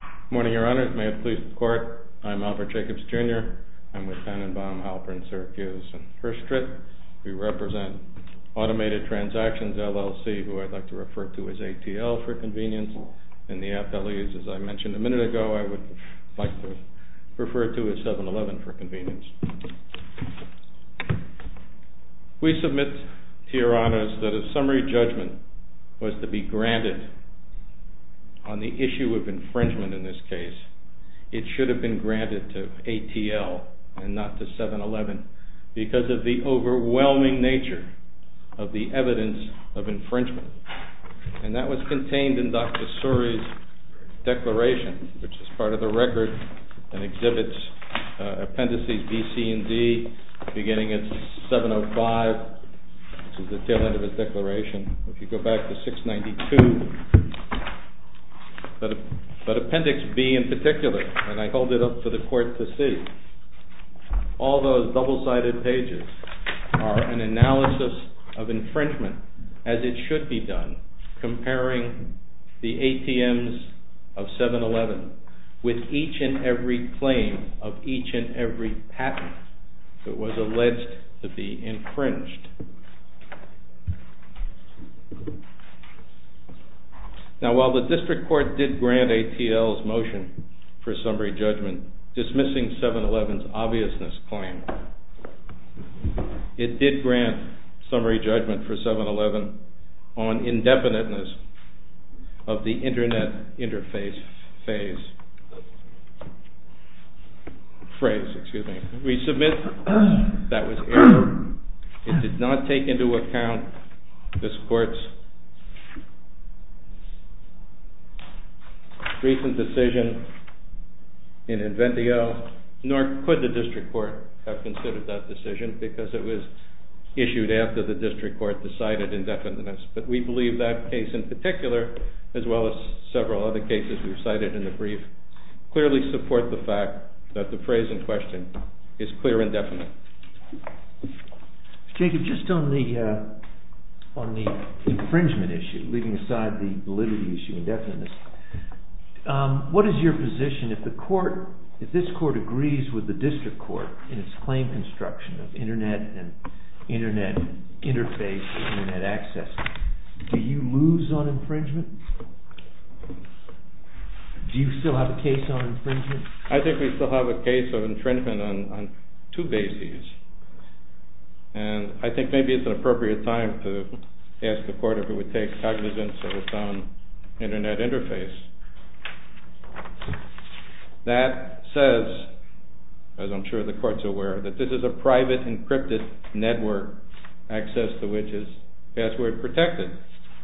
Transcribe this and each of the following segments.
Good morning, Your Honors. May it please the Court, I'm Albert Jacobs, Jr. I'm with Tenenbaum, Halpern, Syracuse, and First Strit. We represent Automated Transactions, LLC, who I'd like to refer to as ATL for convenience. And the FLEs, as I mentioned a minute ago, I would like to refer to as 7-Eleven for convenience. We submit, Your Honors, that a summary judgment was to be granted on the issue of infringement in this case. It should have been granted to ATL and not to 7-Eleven because of the overwhelming nature of the evidence of infringement. And that was contained in Dr. Suri's declaration, which is part of the record and exhibits appendices B, C, and D, beginning at 705, which is the tail end of his declaration. If you go back to 692, appendix B in particular, and I hold it up for the Court to see, all those double-sided pages are an analysis of infringement as it should be done, comparing the ATMs of 7-Eleven with each and every claim of each and every patent that was alleged to be infringed. Now while the District Court did grant ATL's motion for summary judgment, dismissing 7-Eleven's obviousness claim, it did grant summary judgment for 7-Eleven on indefiniteness of the internet interface phrase. We submit that was error. It did not take into account this Court's recent decision in Inventio, nor could the District Court have considered that decision because it was issued after the District Court decided indefiniteness. But we believe that case in particular, as well as several other cases we've cited in the brief, clearly support the fact that the phrase in question is clear indefinite. Jacob, just on the infringement issue, leaving aside the validity issue, indefiniteness, what is your position if this Court agrees with the District Court in its claim construction of internet interface, internet access, do you lose on infringement? Do you still have a case on infringement? I think we still have a case of infringement on two bases, and I think maybe it's an appropriate time to ask the Court if it would take cognizance of its own internet interface. That says, as I'm sure the Court's aware, that this is a private encrypted network, access to which is password protected,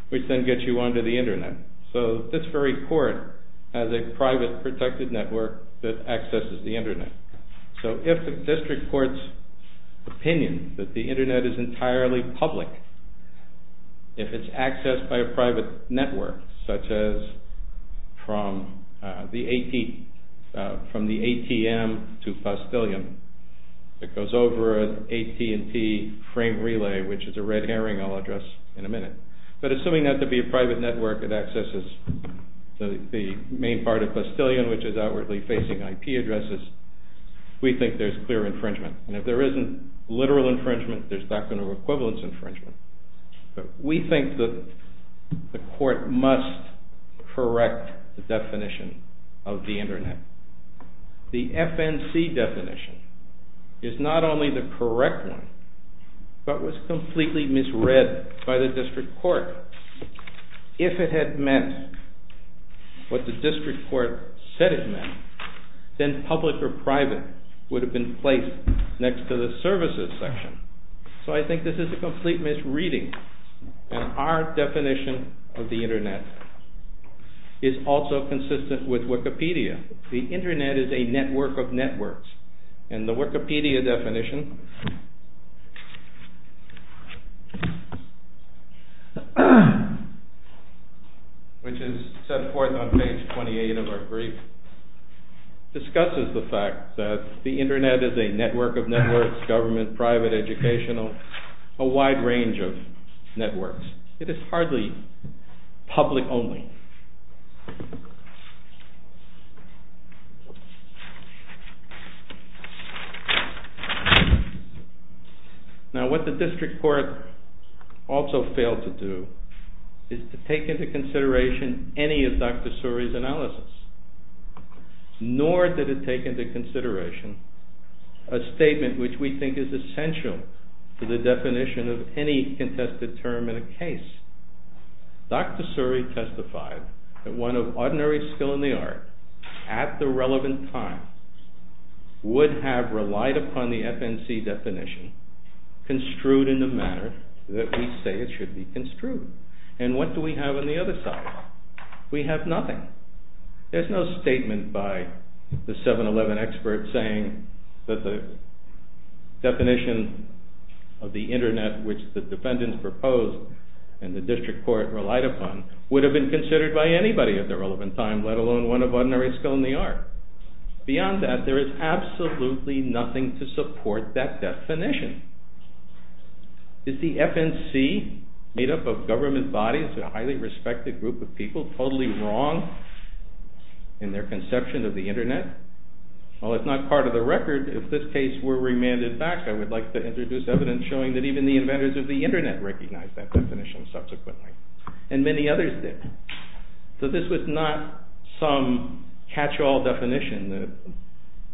which then gets you onto the internet. So this very Court has a private protected network that accesses the internet. So if the District Court's opinion that the internet is entirely public, if it's accessed by a private network, such as from the ATM to Faustilian, it goes over an AT&T frame relay, which is a red herring I'll address in a minute. But assuming that to be a private network, it accesses the main part of Faustilian, which is outwardly facing IP addresses, we think there's clear infringement. And if there isn't literal infringement, there's doctrinal equivalence infringement. We think the Court must correct the definition of the internet. The FNC definition is not only the correct one, but was completely misread by the District Court. If it had meant what the District Court said it meant, then public or private would have been placed next to the services section. So I think this is a complete misreading. And our definition of the internet is also consistent with Wikipedia. The internet is a network of networks. And the Wikipedia definition, which is set forth on page 28 of our brief, discusses the fact that the internet is a network of networks, government, private, educational, a wide range of networks. It is hardly public only. Now what the District Court also failed to do is to take into consideration any of Dr. Suri's analysis. Nor did it take into consideration a statement which we think is essential to the definition of any contested term in a case. Dr. Suri testified that one of ordinary skill in the art at the relevant time would have relied upon the FNC definition construed in the manner that we say it should be construed. And what do we have on the other side? We have nothing. There's no statement by the 7-Eleven expert saying that the definition of the internet which the defendants proposed and the District Court relied upon would have been considered by anybody at the relevant time, let alone one of ordinary skill in the art. Beyond that, there is absolutely nothing to support that definition. Is the FNC made up of government bodies, a highly respected group of people, totally wrong in their conception of the internet? Well, it's not part of the record. If this case were remanded back, I would like to introduce evidence showing that even the inventors of the internet recognized that definition subsequently. And many others did. So this was not some catch-all definition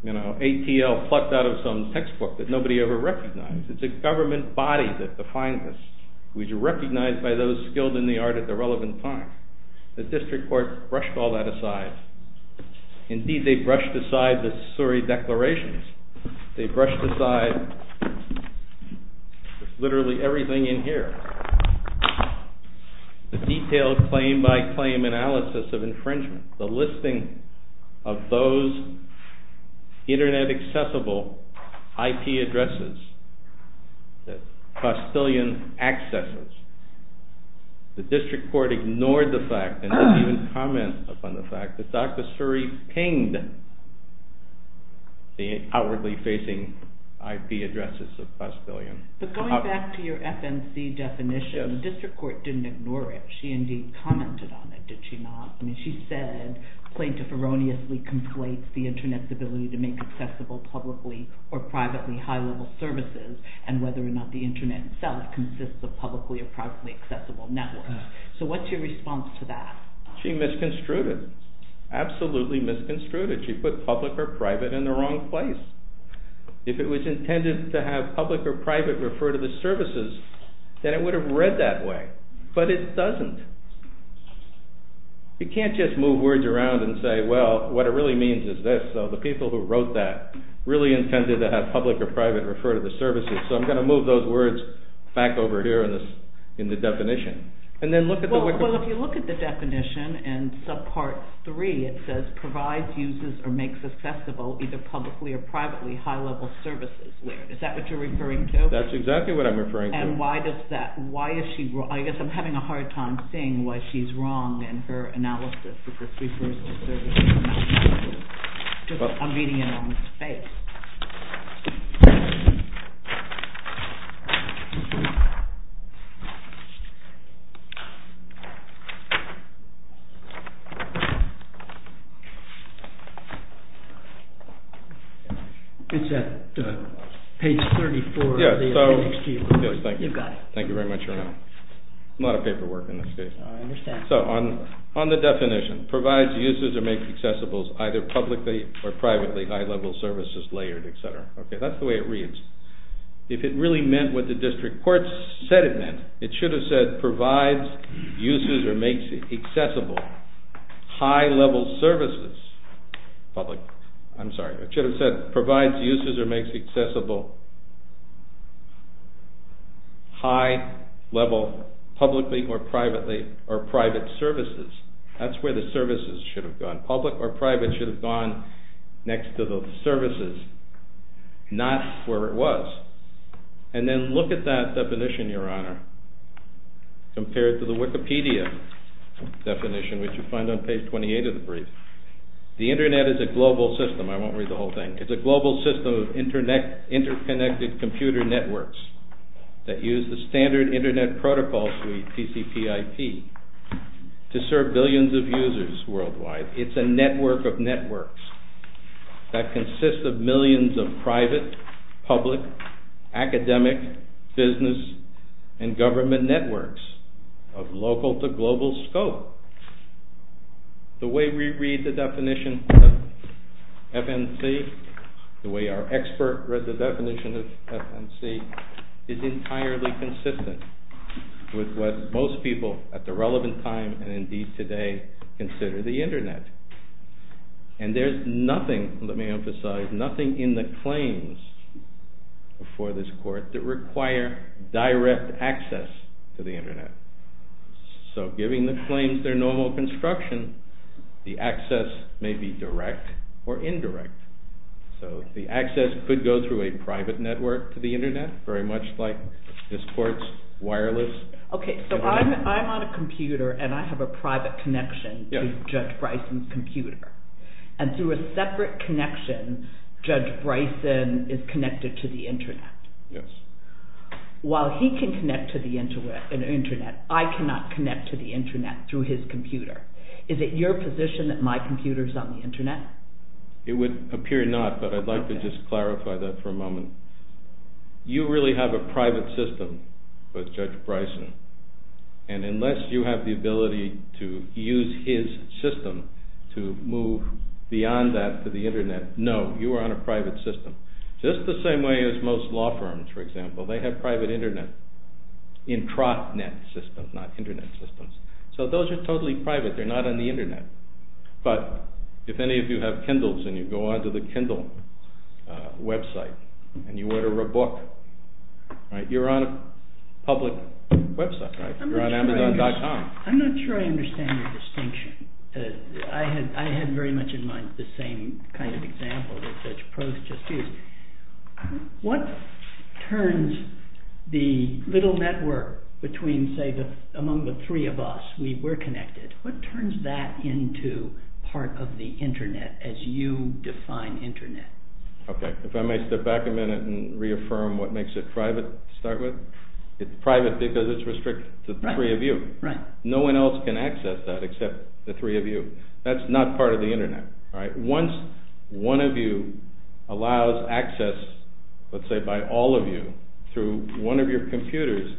that ATL plucked out of some textbook that nobody ever recognized. It's a government body that defined this, which was recognized by those skilled in the art at the relevant time. The District Court brushed all that aside. Indeed, they brushed aside the Suri declarations. They brushed aside literally everything in here. The detailed claim-by-claim analysis of infringement. The listing of those internet-accessible IP addresses that Castilian accesses. The District Court ignored the fact and didn't even comment upon the fact that Dr. Suri pinged the outwardly facing IP addresses of Castilian. But going back to your FNC definition, the District Court didn't ignore it. She indeed commented on it, did she not? I mean, she said, plaintiff erroneously conflates the internet's ability to make accessible publicly or privately high-level services, and whether or not the internet itself consists of publicly or privately accessible networks. So what's your response to that? She misconstrued it. Absolutely misconstrued it. She put public or private in the wrong place. If it was intended to have public or private refer to the services, then it would have read that way. But it doesn't. You can't just move words around and say, well, what it really means is this. So the people who wrote that really intended to have public or private refer to the services. So I'm going to move those words back over here in the definition. Well, if you look at the definition in subpart 3, it says provides, uses, or makes accessible either publicly or privately high-level services. Is that what you're referring to? That's exactly what I'm referring to. And why is she wrong? I guess I'm having a hard time seeing why she's wrong in her analysis that this refers to services. I'm reading it on its face. It's at page 34 of the appendix G. You got it. Thank you very much, Your Honor. A lot of paperwork in this case. I understand. So on the definition, provides, uses, or makes accessible either publicly or privately high-level services layered, et cetera. Okay, that's the way it reads. If it really meant what the district court said it meant, it should have said provides, uses, or makes accessible high-level services. I'm sorry. It should have said provides, uses, or makes accessible high-level publicly or privately or private services. That's where the services should have gone. Public or private should have gone next to the services, not where it was. And then look at that definition, Your Honor, compared to the Wikipedia definition, which you find on page 28 of the brief. The Internet is a global system. I won't read the whole thing. It's a global system of interconnected computer networks that use the standard Internet protocol suite, TCPIP, to serve billions of users worldwide. It's a network of networks that consists of millions of private, public, academic, business, and government networks of local to global scope. The way we read the definition of FNC, the way our expert read the definition of FNC, is entirely consistent with what most people at the relevant time, and indeed today, consider the Internet. And there's nothing, let me emphasize, nothing in the claims before this Court that require direct access to the Internet. So giving the claims their normal construction, the access may be direct or indirect. So the access could go through a private network to the Internet, very much like this Court's wireless Internet. Okay, so I'm on a computer and I have a private connection to Judge Bryson's computer. And through a separate connection, Judge Bryson is connected to the Internet. Yes. While he can connect to the Internet, I cannot connect to the Internet through his computer. Is it your position that my computer is on the Internet? It would appear not, but I'd like to just clarify that for a moment. You really have a private system with Judge Bryson. And unless you have the ability to use his system to move beyond that to the Internet, no, you are on a private system. Just the same way as most law firms, for example, they have private Intranet systems, not Internet systems. So those are totally private, they're not on the Internet. But if any of you have Kindles and you go onto the Kindle website and you order a book, you're on a public website, right? You're on Amazon.com. I'm not sure I understand your distinction. I had very much in mind the same kind of example that Judge Prost just used. What turns the little network between, say, among the three of us, we're connected, what turns that into part of the Internet as you define Internet? Okay, if I may step back a minute and reaffirm what makes it private to start with? It's private because it's restricted to the three of you. No one else can access that except the three of you. That's not part of the Internet. Once one of you allows access, let's say by all of you, through one of your computers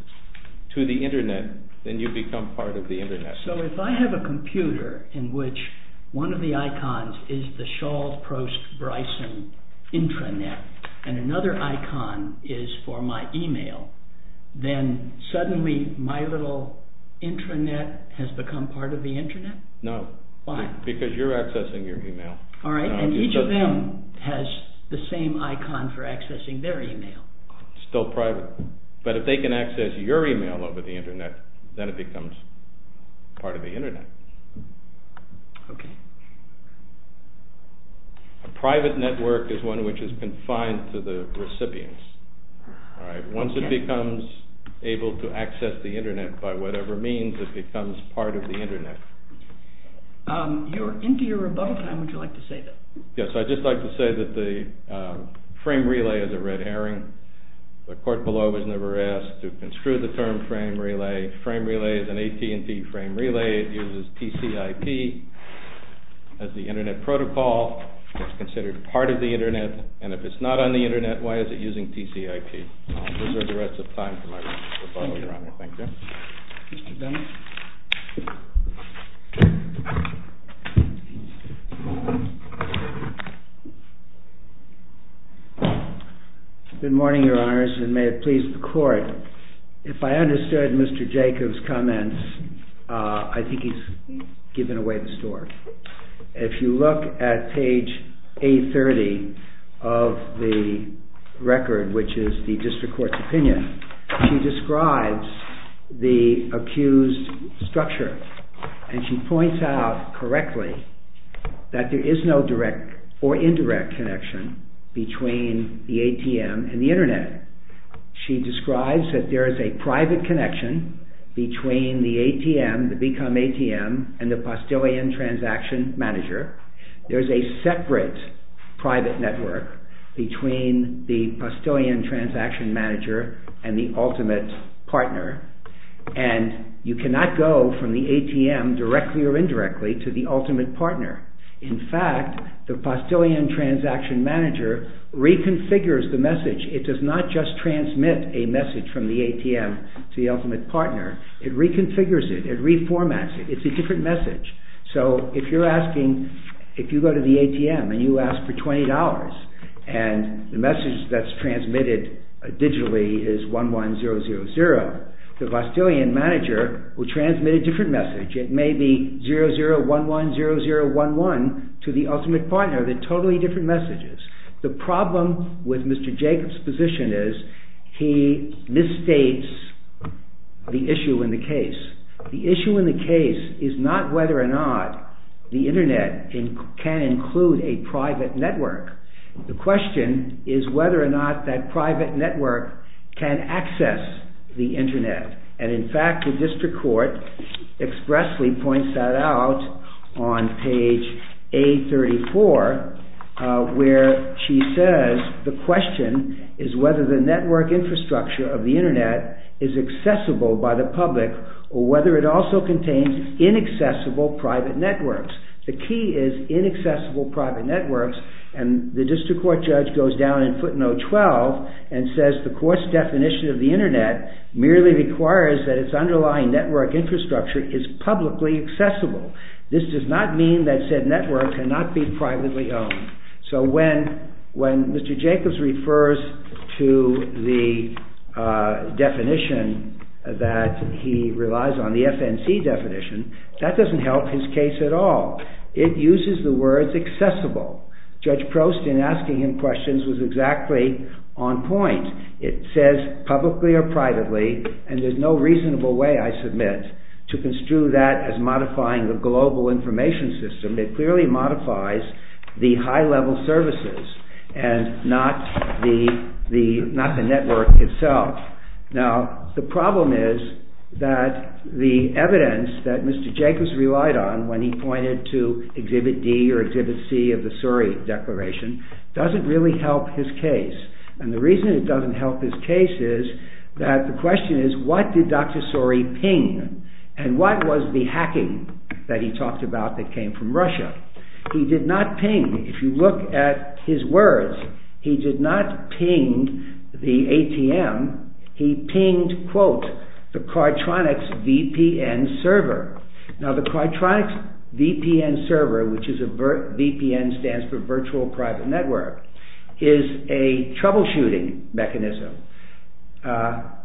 to the Internet, then you become part of the Internet. So if I have a computer in which one of the icons is the Shaw, Prost, Bryson intranet and another icon is for my email, then suddenly my little intranet has become part of the Internet? No. Why? Because you're accessing your email. All right, and each of them has the same icon for accessing their email. It's still private, but if they can access your email over the Internet, then it becomes part of the Internet. Okay. A private network is one which is confined to the recipients. Once it becomes able to access the Internet by whatever means, it becomes part of the Internet. Into your rebuttal time, would you like to say that? Yes, I'd just like to say that the frame relay is a red herring. The court below was never asked to construe the term frame relay. Frame relay is an AT&T frame relay. It uses TCIP as the Internet protocol. It's considered part of the Internet, and if it's not on the Internet, why is it using TCIP? I'll reserve the rest of time for my rebuttal, Your Honor. Thank you. Mr. Dunn. Good morning, Your Honors, and may it please the court. If I understood Mr. Jacobs' comments, I think he's given away the story. If you look at page 830 of the record, which is the district court's opinion, she describes the accused's structure, and she points out correctly that there is no direct or indirect connection between the ATM and the Internet. She describes that there is a private connection between the ATM, the Become ATM, and the Postillion Transaction Manager. There's a separate private network between the Postillion Transaction Manager and the ultimate partner, and you cannot go from the ATM, directly or indirectly, to the ultimate partner. In fact, the Postillion Transaction Manager reconfigures the message. It does not just transmit a message from the ATM to the ultimate partner. It reconfigures it. It reformats it. It's a different message. So if you're asking, if you go to the ATM and you ask for $20, and the message that's transmitted digitally is 11000, the Postillion Manager will transmit a different message. It may be 00110011 to the ultimate partner. They're totally different messages. The problem with Mr. Jacobs' position is he misstates the issue in the case. The issue in the case is not whether or not the Internet can include a private network. The question is whether or not that private network can access the Internet. In fact, the district court expressly points that out on page A34, where she says the question is whether the network infrastructure of the Internet is accessible by the public or whether it also contains inaccessible private networks. The key is inaccessible private networks, and the district court judge goes down in footnote 12 and says the court's definition of the Internet merely requires that its underlying network infrastructure is publicly accessible. This does not mean that said network cannot be privately owned. So when Mr. Jacobs refers to the definition that he relies on, the FNC definition, that doesn't help his case at all. It uses the words accessible. Judge Prost, in asking him questions, was exactly on point. It says publicly or privately, and there's no reasonable way, I submit, to construe that as modifying the global information system. It clearly modifies the high-level services and not the network itself. Now, the problem is that the evidence that Mr. Jacobs relied on when he pointed to Exhibit D or Exhibit C of the Surrey Declaration doesn't really help his case. And the reason it doesn't help his case is that the question is what did Dr. Surrey ping and what was the hacking that he talked about that came from Russia? He did not ping, if you look at his words, he did not ping the ATM. He pinged, quote, the Cartronics VPN server. Now, the Cartronics VPN server, which is a VPN, stands for virtual private network, is a troubleshooting mechanism.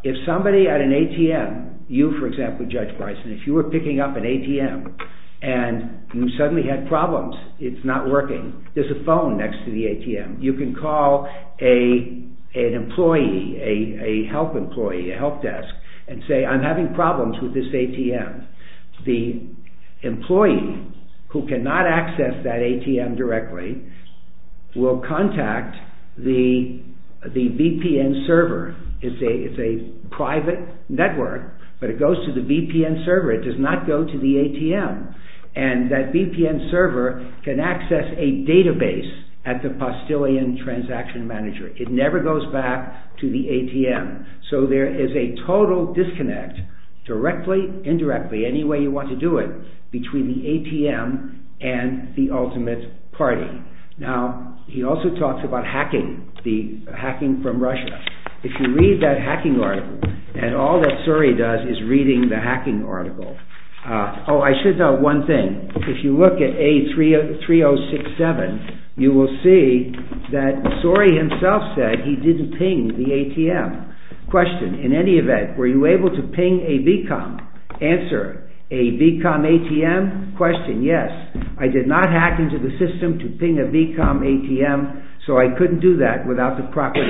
If somebody at an ATM, you, for example, Judge Bryson, if you were picking up an ATM and you suddenly had problems, it's not working, there's a phone next to the ATM, you can call an employee, a health employee, a health desk, and say, I'm having problems with this ATM. The employee who cannot access that ATM directly will contact the VPN server. It's a private network, but it goes to the VPN server, it does not go to the ATM. And that VPN server can access a database at the Postillion Transaction Manager. It never goes back to the ATM. So there is a total disconnect, directly, indirectly, any way you want to do it, between the ATM and the ultimate party. Now, he also talks about hacking, the hacking from Russia. If you read that hacking article, and all that SORI does is reading the hacking article. Oh, I should note one thing. If you look at A3067, you will see that SORI himself said he didn't ping the ATM. Question, in any event, were you able to ping a BCOM? Answer, a BCOM ATM? Question, yes. I did not hack into the system to ping a BCOM ATM, so I couldn't do that without the proper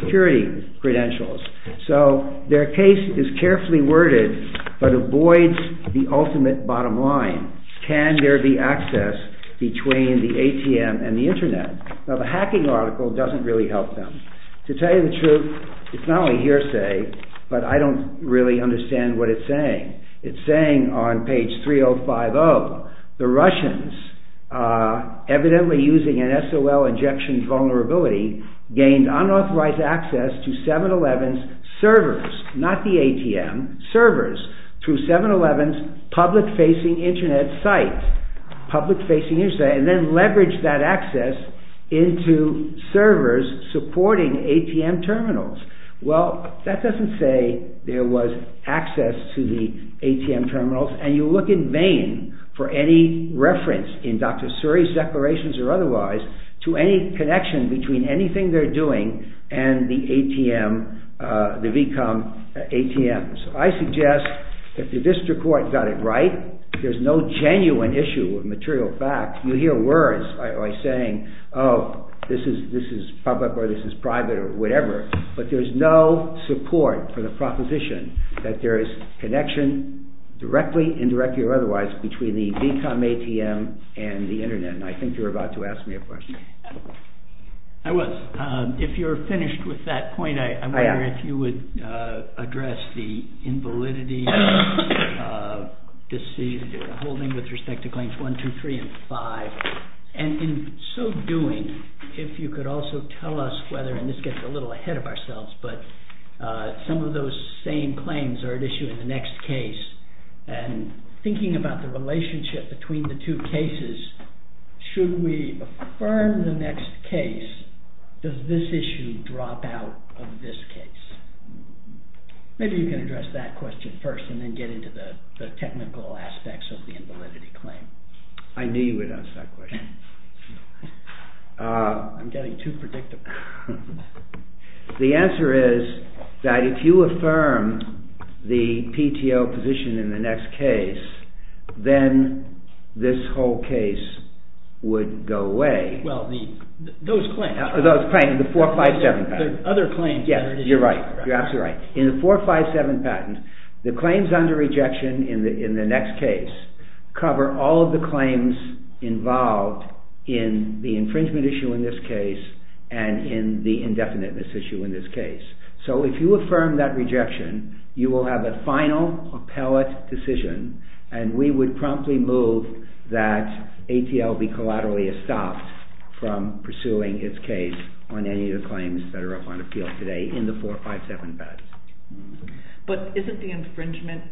security credentials. So, their case is carefully worded, but avoids the ultimate bottom line. Can there be access between the ATM and the Internet? Now, the hacking article doesn't really help them. To tell you the truth, it's not only hearsay, but I don't really understand what it's saying. It's saying on page 3050, the Russians, evidently using an SOL injection vulnerability, gained unauthorized access to 7-11's servers, not the ATM, servers, through 7-11's public-facing Internet site, and then leveraged that access into servers supporting ATM terminals. Well, that doesn't say there was access to the ATM terminals, and you look in Maine for any reference, in Dr. Suri's declarations or otherwise, to any connection between anything they're doing and the ATM, the BCOM ATMs. I suggest, if the district court got it right, there's no genuine issue with material facts. You hear words like saying, oh, this is public or this is private or whatever, but there's no support for the proposition that there is connection, directly, indirectly or otherwise, between the BCOM ATM and the Internet, and I think you were about to ask me a question. I was. If you're finished with that point, I wonder if you would address the invalidity, holding with respect to claims 1, 2, 3, and 5, and in so doing, if you could also tell us whether, and this gets a little ahead of ourselves, but some of those same claims are at issue in the next case, and thinking about the relationship between the two cases, should we affirm the next case? Does this issue drop out of this case? Maybe you can address that question first, and then get into the technical aspects of the invalidity claim. I knew you would ask that question. I'm getting too predictive. The answer is that if you affirm the PTO position in the next case, then this whole case would go away. Well, those claims. Those claims, the 4, 5, 7 patents. The other claims. Yes, you're absolutely right. In the 4, 5, 7 patents, the claims under rejection in the next case cover all of the claims involved in the infringement issue in this case, and in the indefiniteness issue in this case. So if you affirm that rejection, you will have a final appellate decision, and we would promptly move that ATL be collaterally stopped from pursuing its case on any of the claims that are up on appeal today in the 4, 5, 7 patents. But doesn't the infringement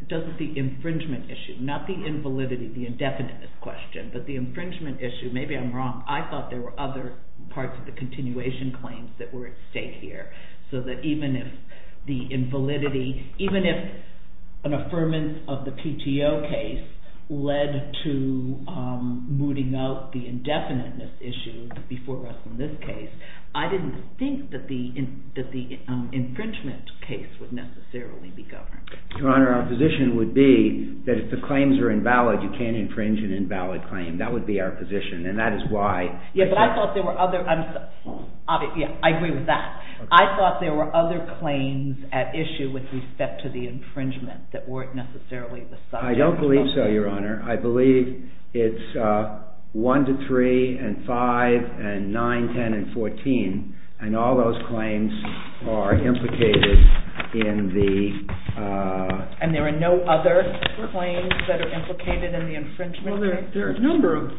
issue, not the invalidity, the indefiniteness question, but the infringement issue, maybe I'm wrong, I thought there were other parts of the continuation claims that were at stake here. So that even if the invalidity, even if an affirmance of the PTO case led to mooting out the indefiniteness issue before us in this case, I didn't think that the infringement case would necessarily be governed. Your Honor, our position would be that if the claims are invalid, you can't infringe an invalid claim. That would be our position, and that is why... Yes, but I thought there were other... I agree with that. I thought there were other claims at issue with respect to the infringement I don't believe so, Your Honor. I believe it's 1 to 3, and 5, and 9, 10, and 14, and all those claims are implicated in the... And there are no other claims that are implicated in the infringement case? Well, there are a number of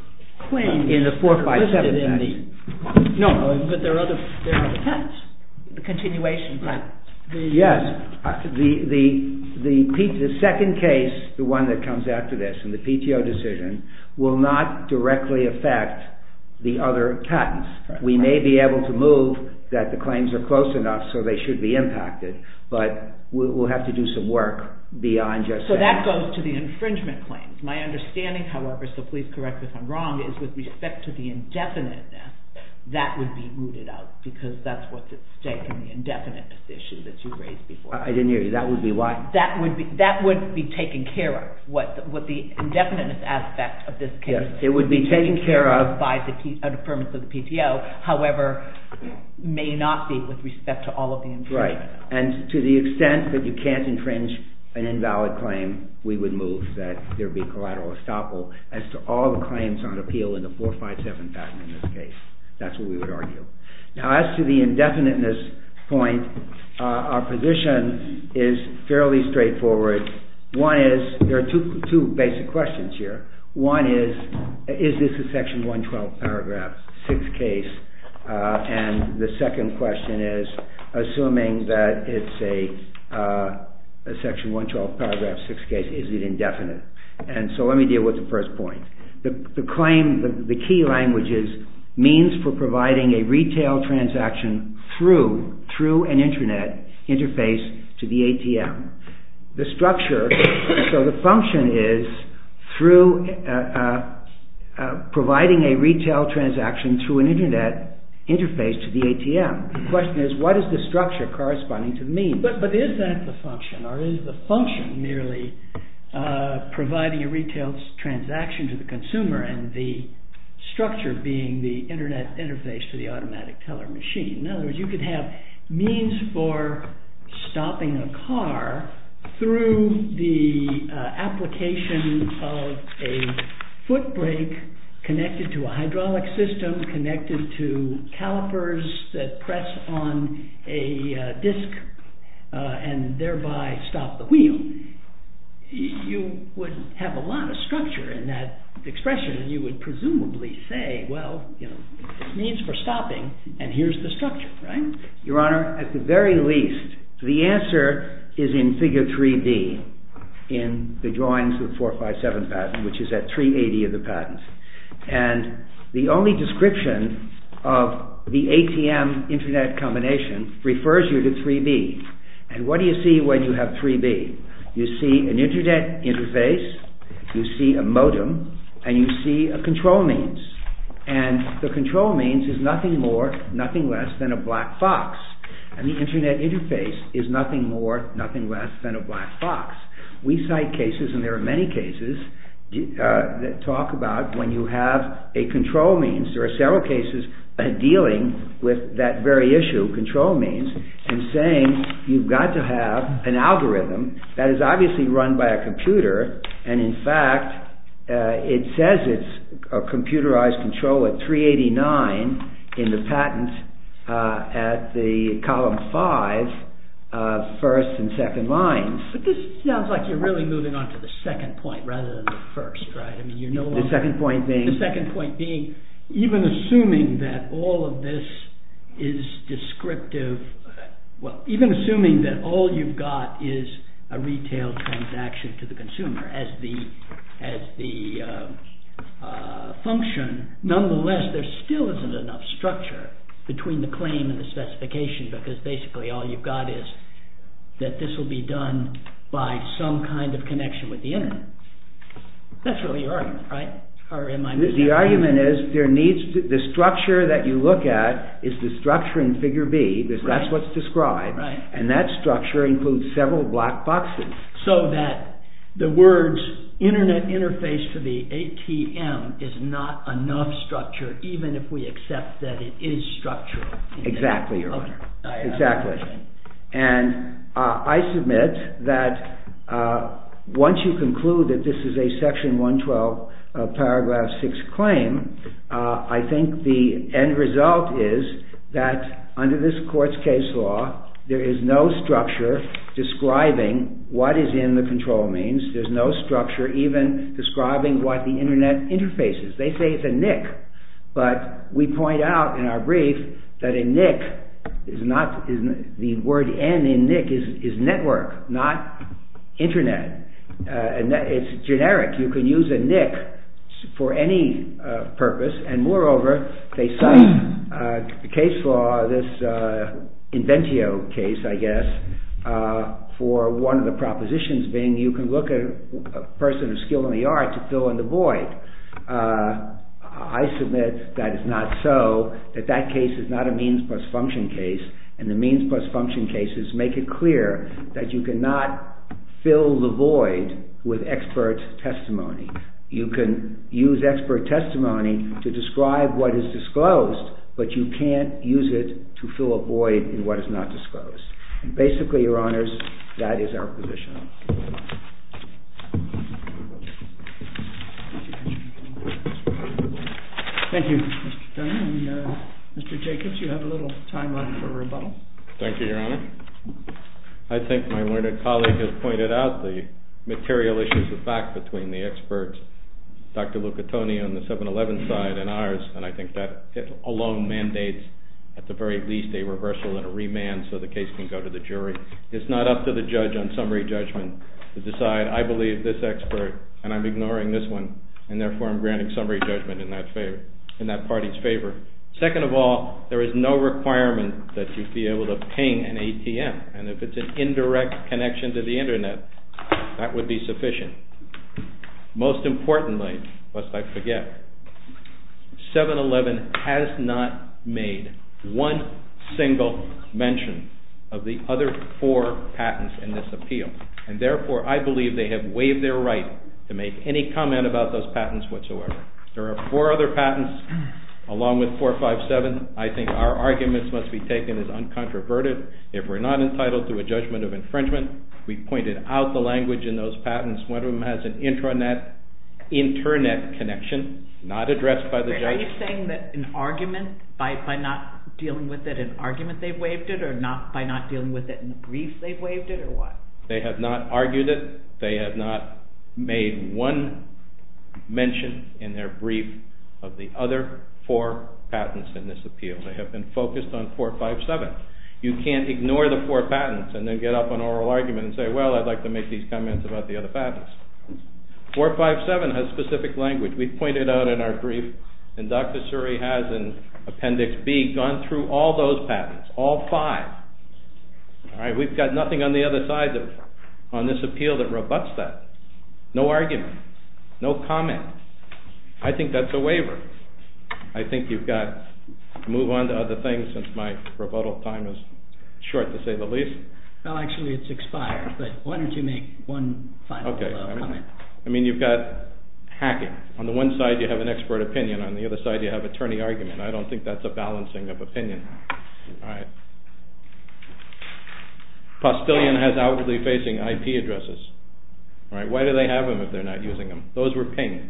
claims... In the 4, 5, 7 patents. No, but there are other patents, the continuation patents. Yes, the second case, the one that comes after this, and the PTO decision, will not directly affect the other patents. We may be able to move that the claims are close enough so they should be impacted, but we'll have to do some work beyond just that. So that goes to the infringement claims. My understanding, however, so please correct me if I'm wrong, is with respect to the indefiniteness, that would be rooted out, because that's what's at stake in the indefiniteness issue that you raised before. I didn't hear you, that would be why? That would be taken care of, what the indefiniteness aspect of this case is. Yes, it would be taken care of... Under the permits of the PTO, however, may not be with respect to all of the infringements. Right, and to the extent that you can't infringe an invalid claim, we would move that there be collateral estoppel as to all the claims on appeal in the 4, 5, 7 patent in this case. That's what we would argue. Now as to the indefiniteness point, our position is fairly straightforward. One is, there are two basic questions here. One is, is this a section 112 paragraph 6 case? And the second question is, assuming that it's a section 112 paragraph 6 case, is it indefinite? And so let me deal with the first point. The claim, the key language is, means for providing a retail transaction through an internet interface to the ATM. The structure, so the function is, providing a retail transaction through an internet interface to the ATM. The question is, what is the structure corresponding to the means? But is that the function, or is the function merely providing a retail transaction to the consumer and the structure being the internet interface to the automatic teller machine? In other words, you could have means for stopping a car through the application of a foot brake connected to a hydraulic system, connected to calipers that press on a disc and thereby stop the wheel. You would have a lot of structure in that expression. You would presumably say, well, means for stopping, and here's the structure, right? Your Honor, at the very least, the answer is in figure 3B in the drawings of the 457 patent, which is at 380 of the patent. And the only description of the ATM-internet combination refers you to 3B. And what do you see when you have 3B? You see an internet interface, you see a modem, and you see a control means. And the control means is nothing more, nothing less than a black fox. And the internet interface is nothing more, nothing less than a black fox. We cite cases, and there are many cases, that talk about when you have a control means, there are several cases dealing with that very issue, control means, and saying you've got to have an algorithm that is obviously run by a computer, and in fact it says it's a computerized control at 389 in the patent at the column 5, first and second lines. But this sounds like you're really moving on to the second point rather than the first, right? The second point being? The second point being, even assuming that all of this is descriptive, even assuming that all you've got is a retail transaction to the consumer as the function, nonetheless there still isn't enough structure between the claim and the specification, because basically all you've got is that this will be done by some kind of connection with the internet. That's really your argument, right? The argument is, the structure that you look at is the structure in figure B, because that's what's described, and that structure includes several black boxes. So that the words internet interface to the ATM is not enough structure, even if we accept that it is structure. Exactly, Your Honor. And I submit that once you conclude that this is a section 112 paragraph 6 claim, I think the end result is that under this court's case law, there is no structure describing what is in the control means, there's no structure even describing what the internet interface is. They say it's a NIC, but we point out in our brief that a NIC is not, the word N in NIC is network, not internet. It's generic, you can use a NIC for any purpose, and moreover they cite a case law, this Inventio case I guess, for one of the propositions being you can look at a person of skill in the art to fill in the void. I submit that is not so, that that case is not a means plus function case, and the means plus function cases make it clear that you cannot fill the void with expert testimony. You can use expert testimony to describe what is disclosed, but you can't use it to fill a void in what is not disclosed. Basically, Your Honors, that is our position. Thank you, Mr. Turner. Mr. Jacobs, you have a little time left for rebuttal. Thank you, Your Honor. I think my learned colleague has pointed out the material issues of fact between the experts, Dr. Lucatoni on the 7-11 side and ours, and I think that alone mandates at the very least a reversal and a remand so the case can go to the jury. It's not up to the judge on summary judgment to decide, I believe this expert, and I'm ignoring this one, and therefore I'm granting summary judgment in that party's favor. Second of all, there is no requirement that you be able to ping an ATM, and if it's an indirect connection to the Internet, that would be sufficient. Most importantly, lest I forget, 7-11 has not made one single mention of the other four patents in this appeal, and therefore I believe they have waived their right to make any comment about those patents whatsoever. There are four other patents, along with 457. I think our arguments must be taken as uncontroverted. If we're not entitled to a judgment of infringement, we've pointed out the language in those patents. One of them has an Internet connection not addressed by the judge. Are you saying that an argument, by not dealing with it in argument they've waived it, or by not dealing with it in the brief they've waived it, or what? They have not argued it. They have not made one mention in their brief of the other four patents in this appeal. They have been focused on 457. You can't ignore the four patents and then get up on oral argument and say, well, I'd like to make these comments about the other patents. 457 has specific language. We've pointed out in our brief, and Dr. Suri has in Appendix B, gone through all those patents, all five. We've got nothing on the other side on this appeal that rebutts that. No argument. No comment. I think that's a waiver. I think you've got to move on to other things since my rebuttal time is short, to say the least. Actually, it's expired, but why don't you make one final comment. You've got hacking. On the one side, you have an expert opinion. On the other side, you have attorney argument. I don't think that's a balancing of opinion. Postillion has outwardly facing IP addresses. Why do they have them if they're not using them? Those were pinged.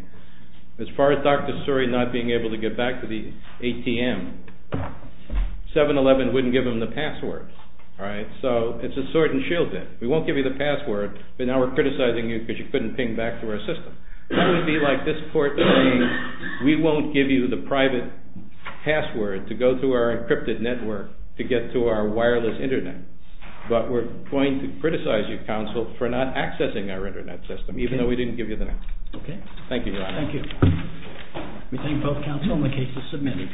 As far as Dr. Suri not being able to get back to the ATM, 7-Eleven wouldn't give him the password. It's a sword and shield thing. We won't give you the password, but now we're criticizing you because you couldn't ping back to our system. That would be like this court saying we won't give you the private password to go through our encrypted network to get to our wireless internet, but we're going to criticize you, counsel, for not accessing our internet system, even though we didn't give you the password. Thank you, Your Honor. Thank you. We thank both counsel and the case is submitted.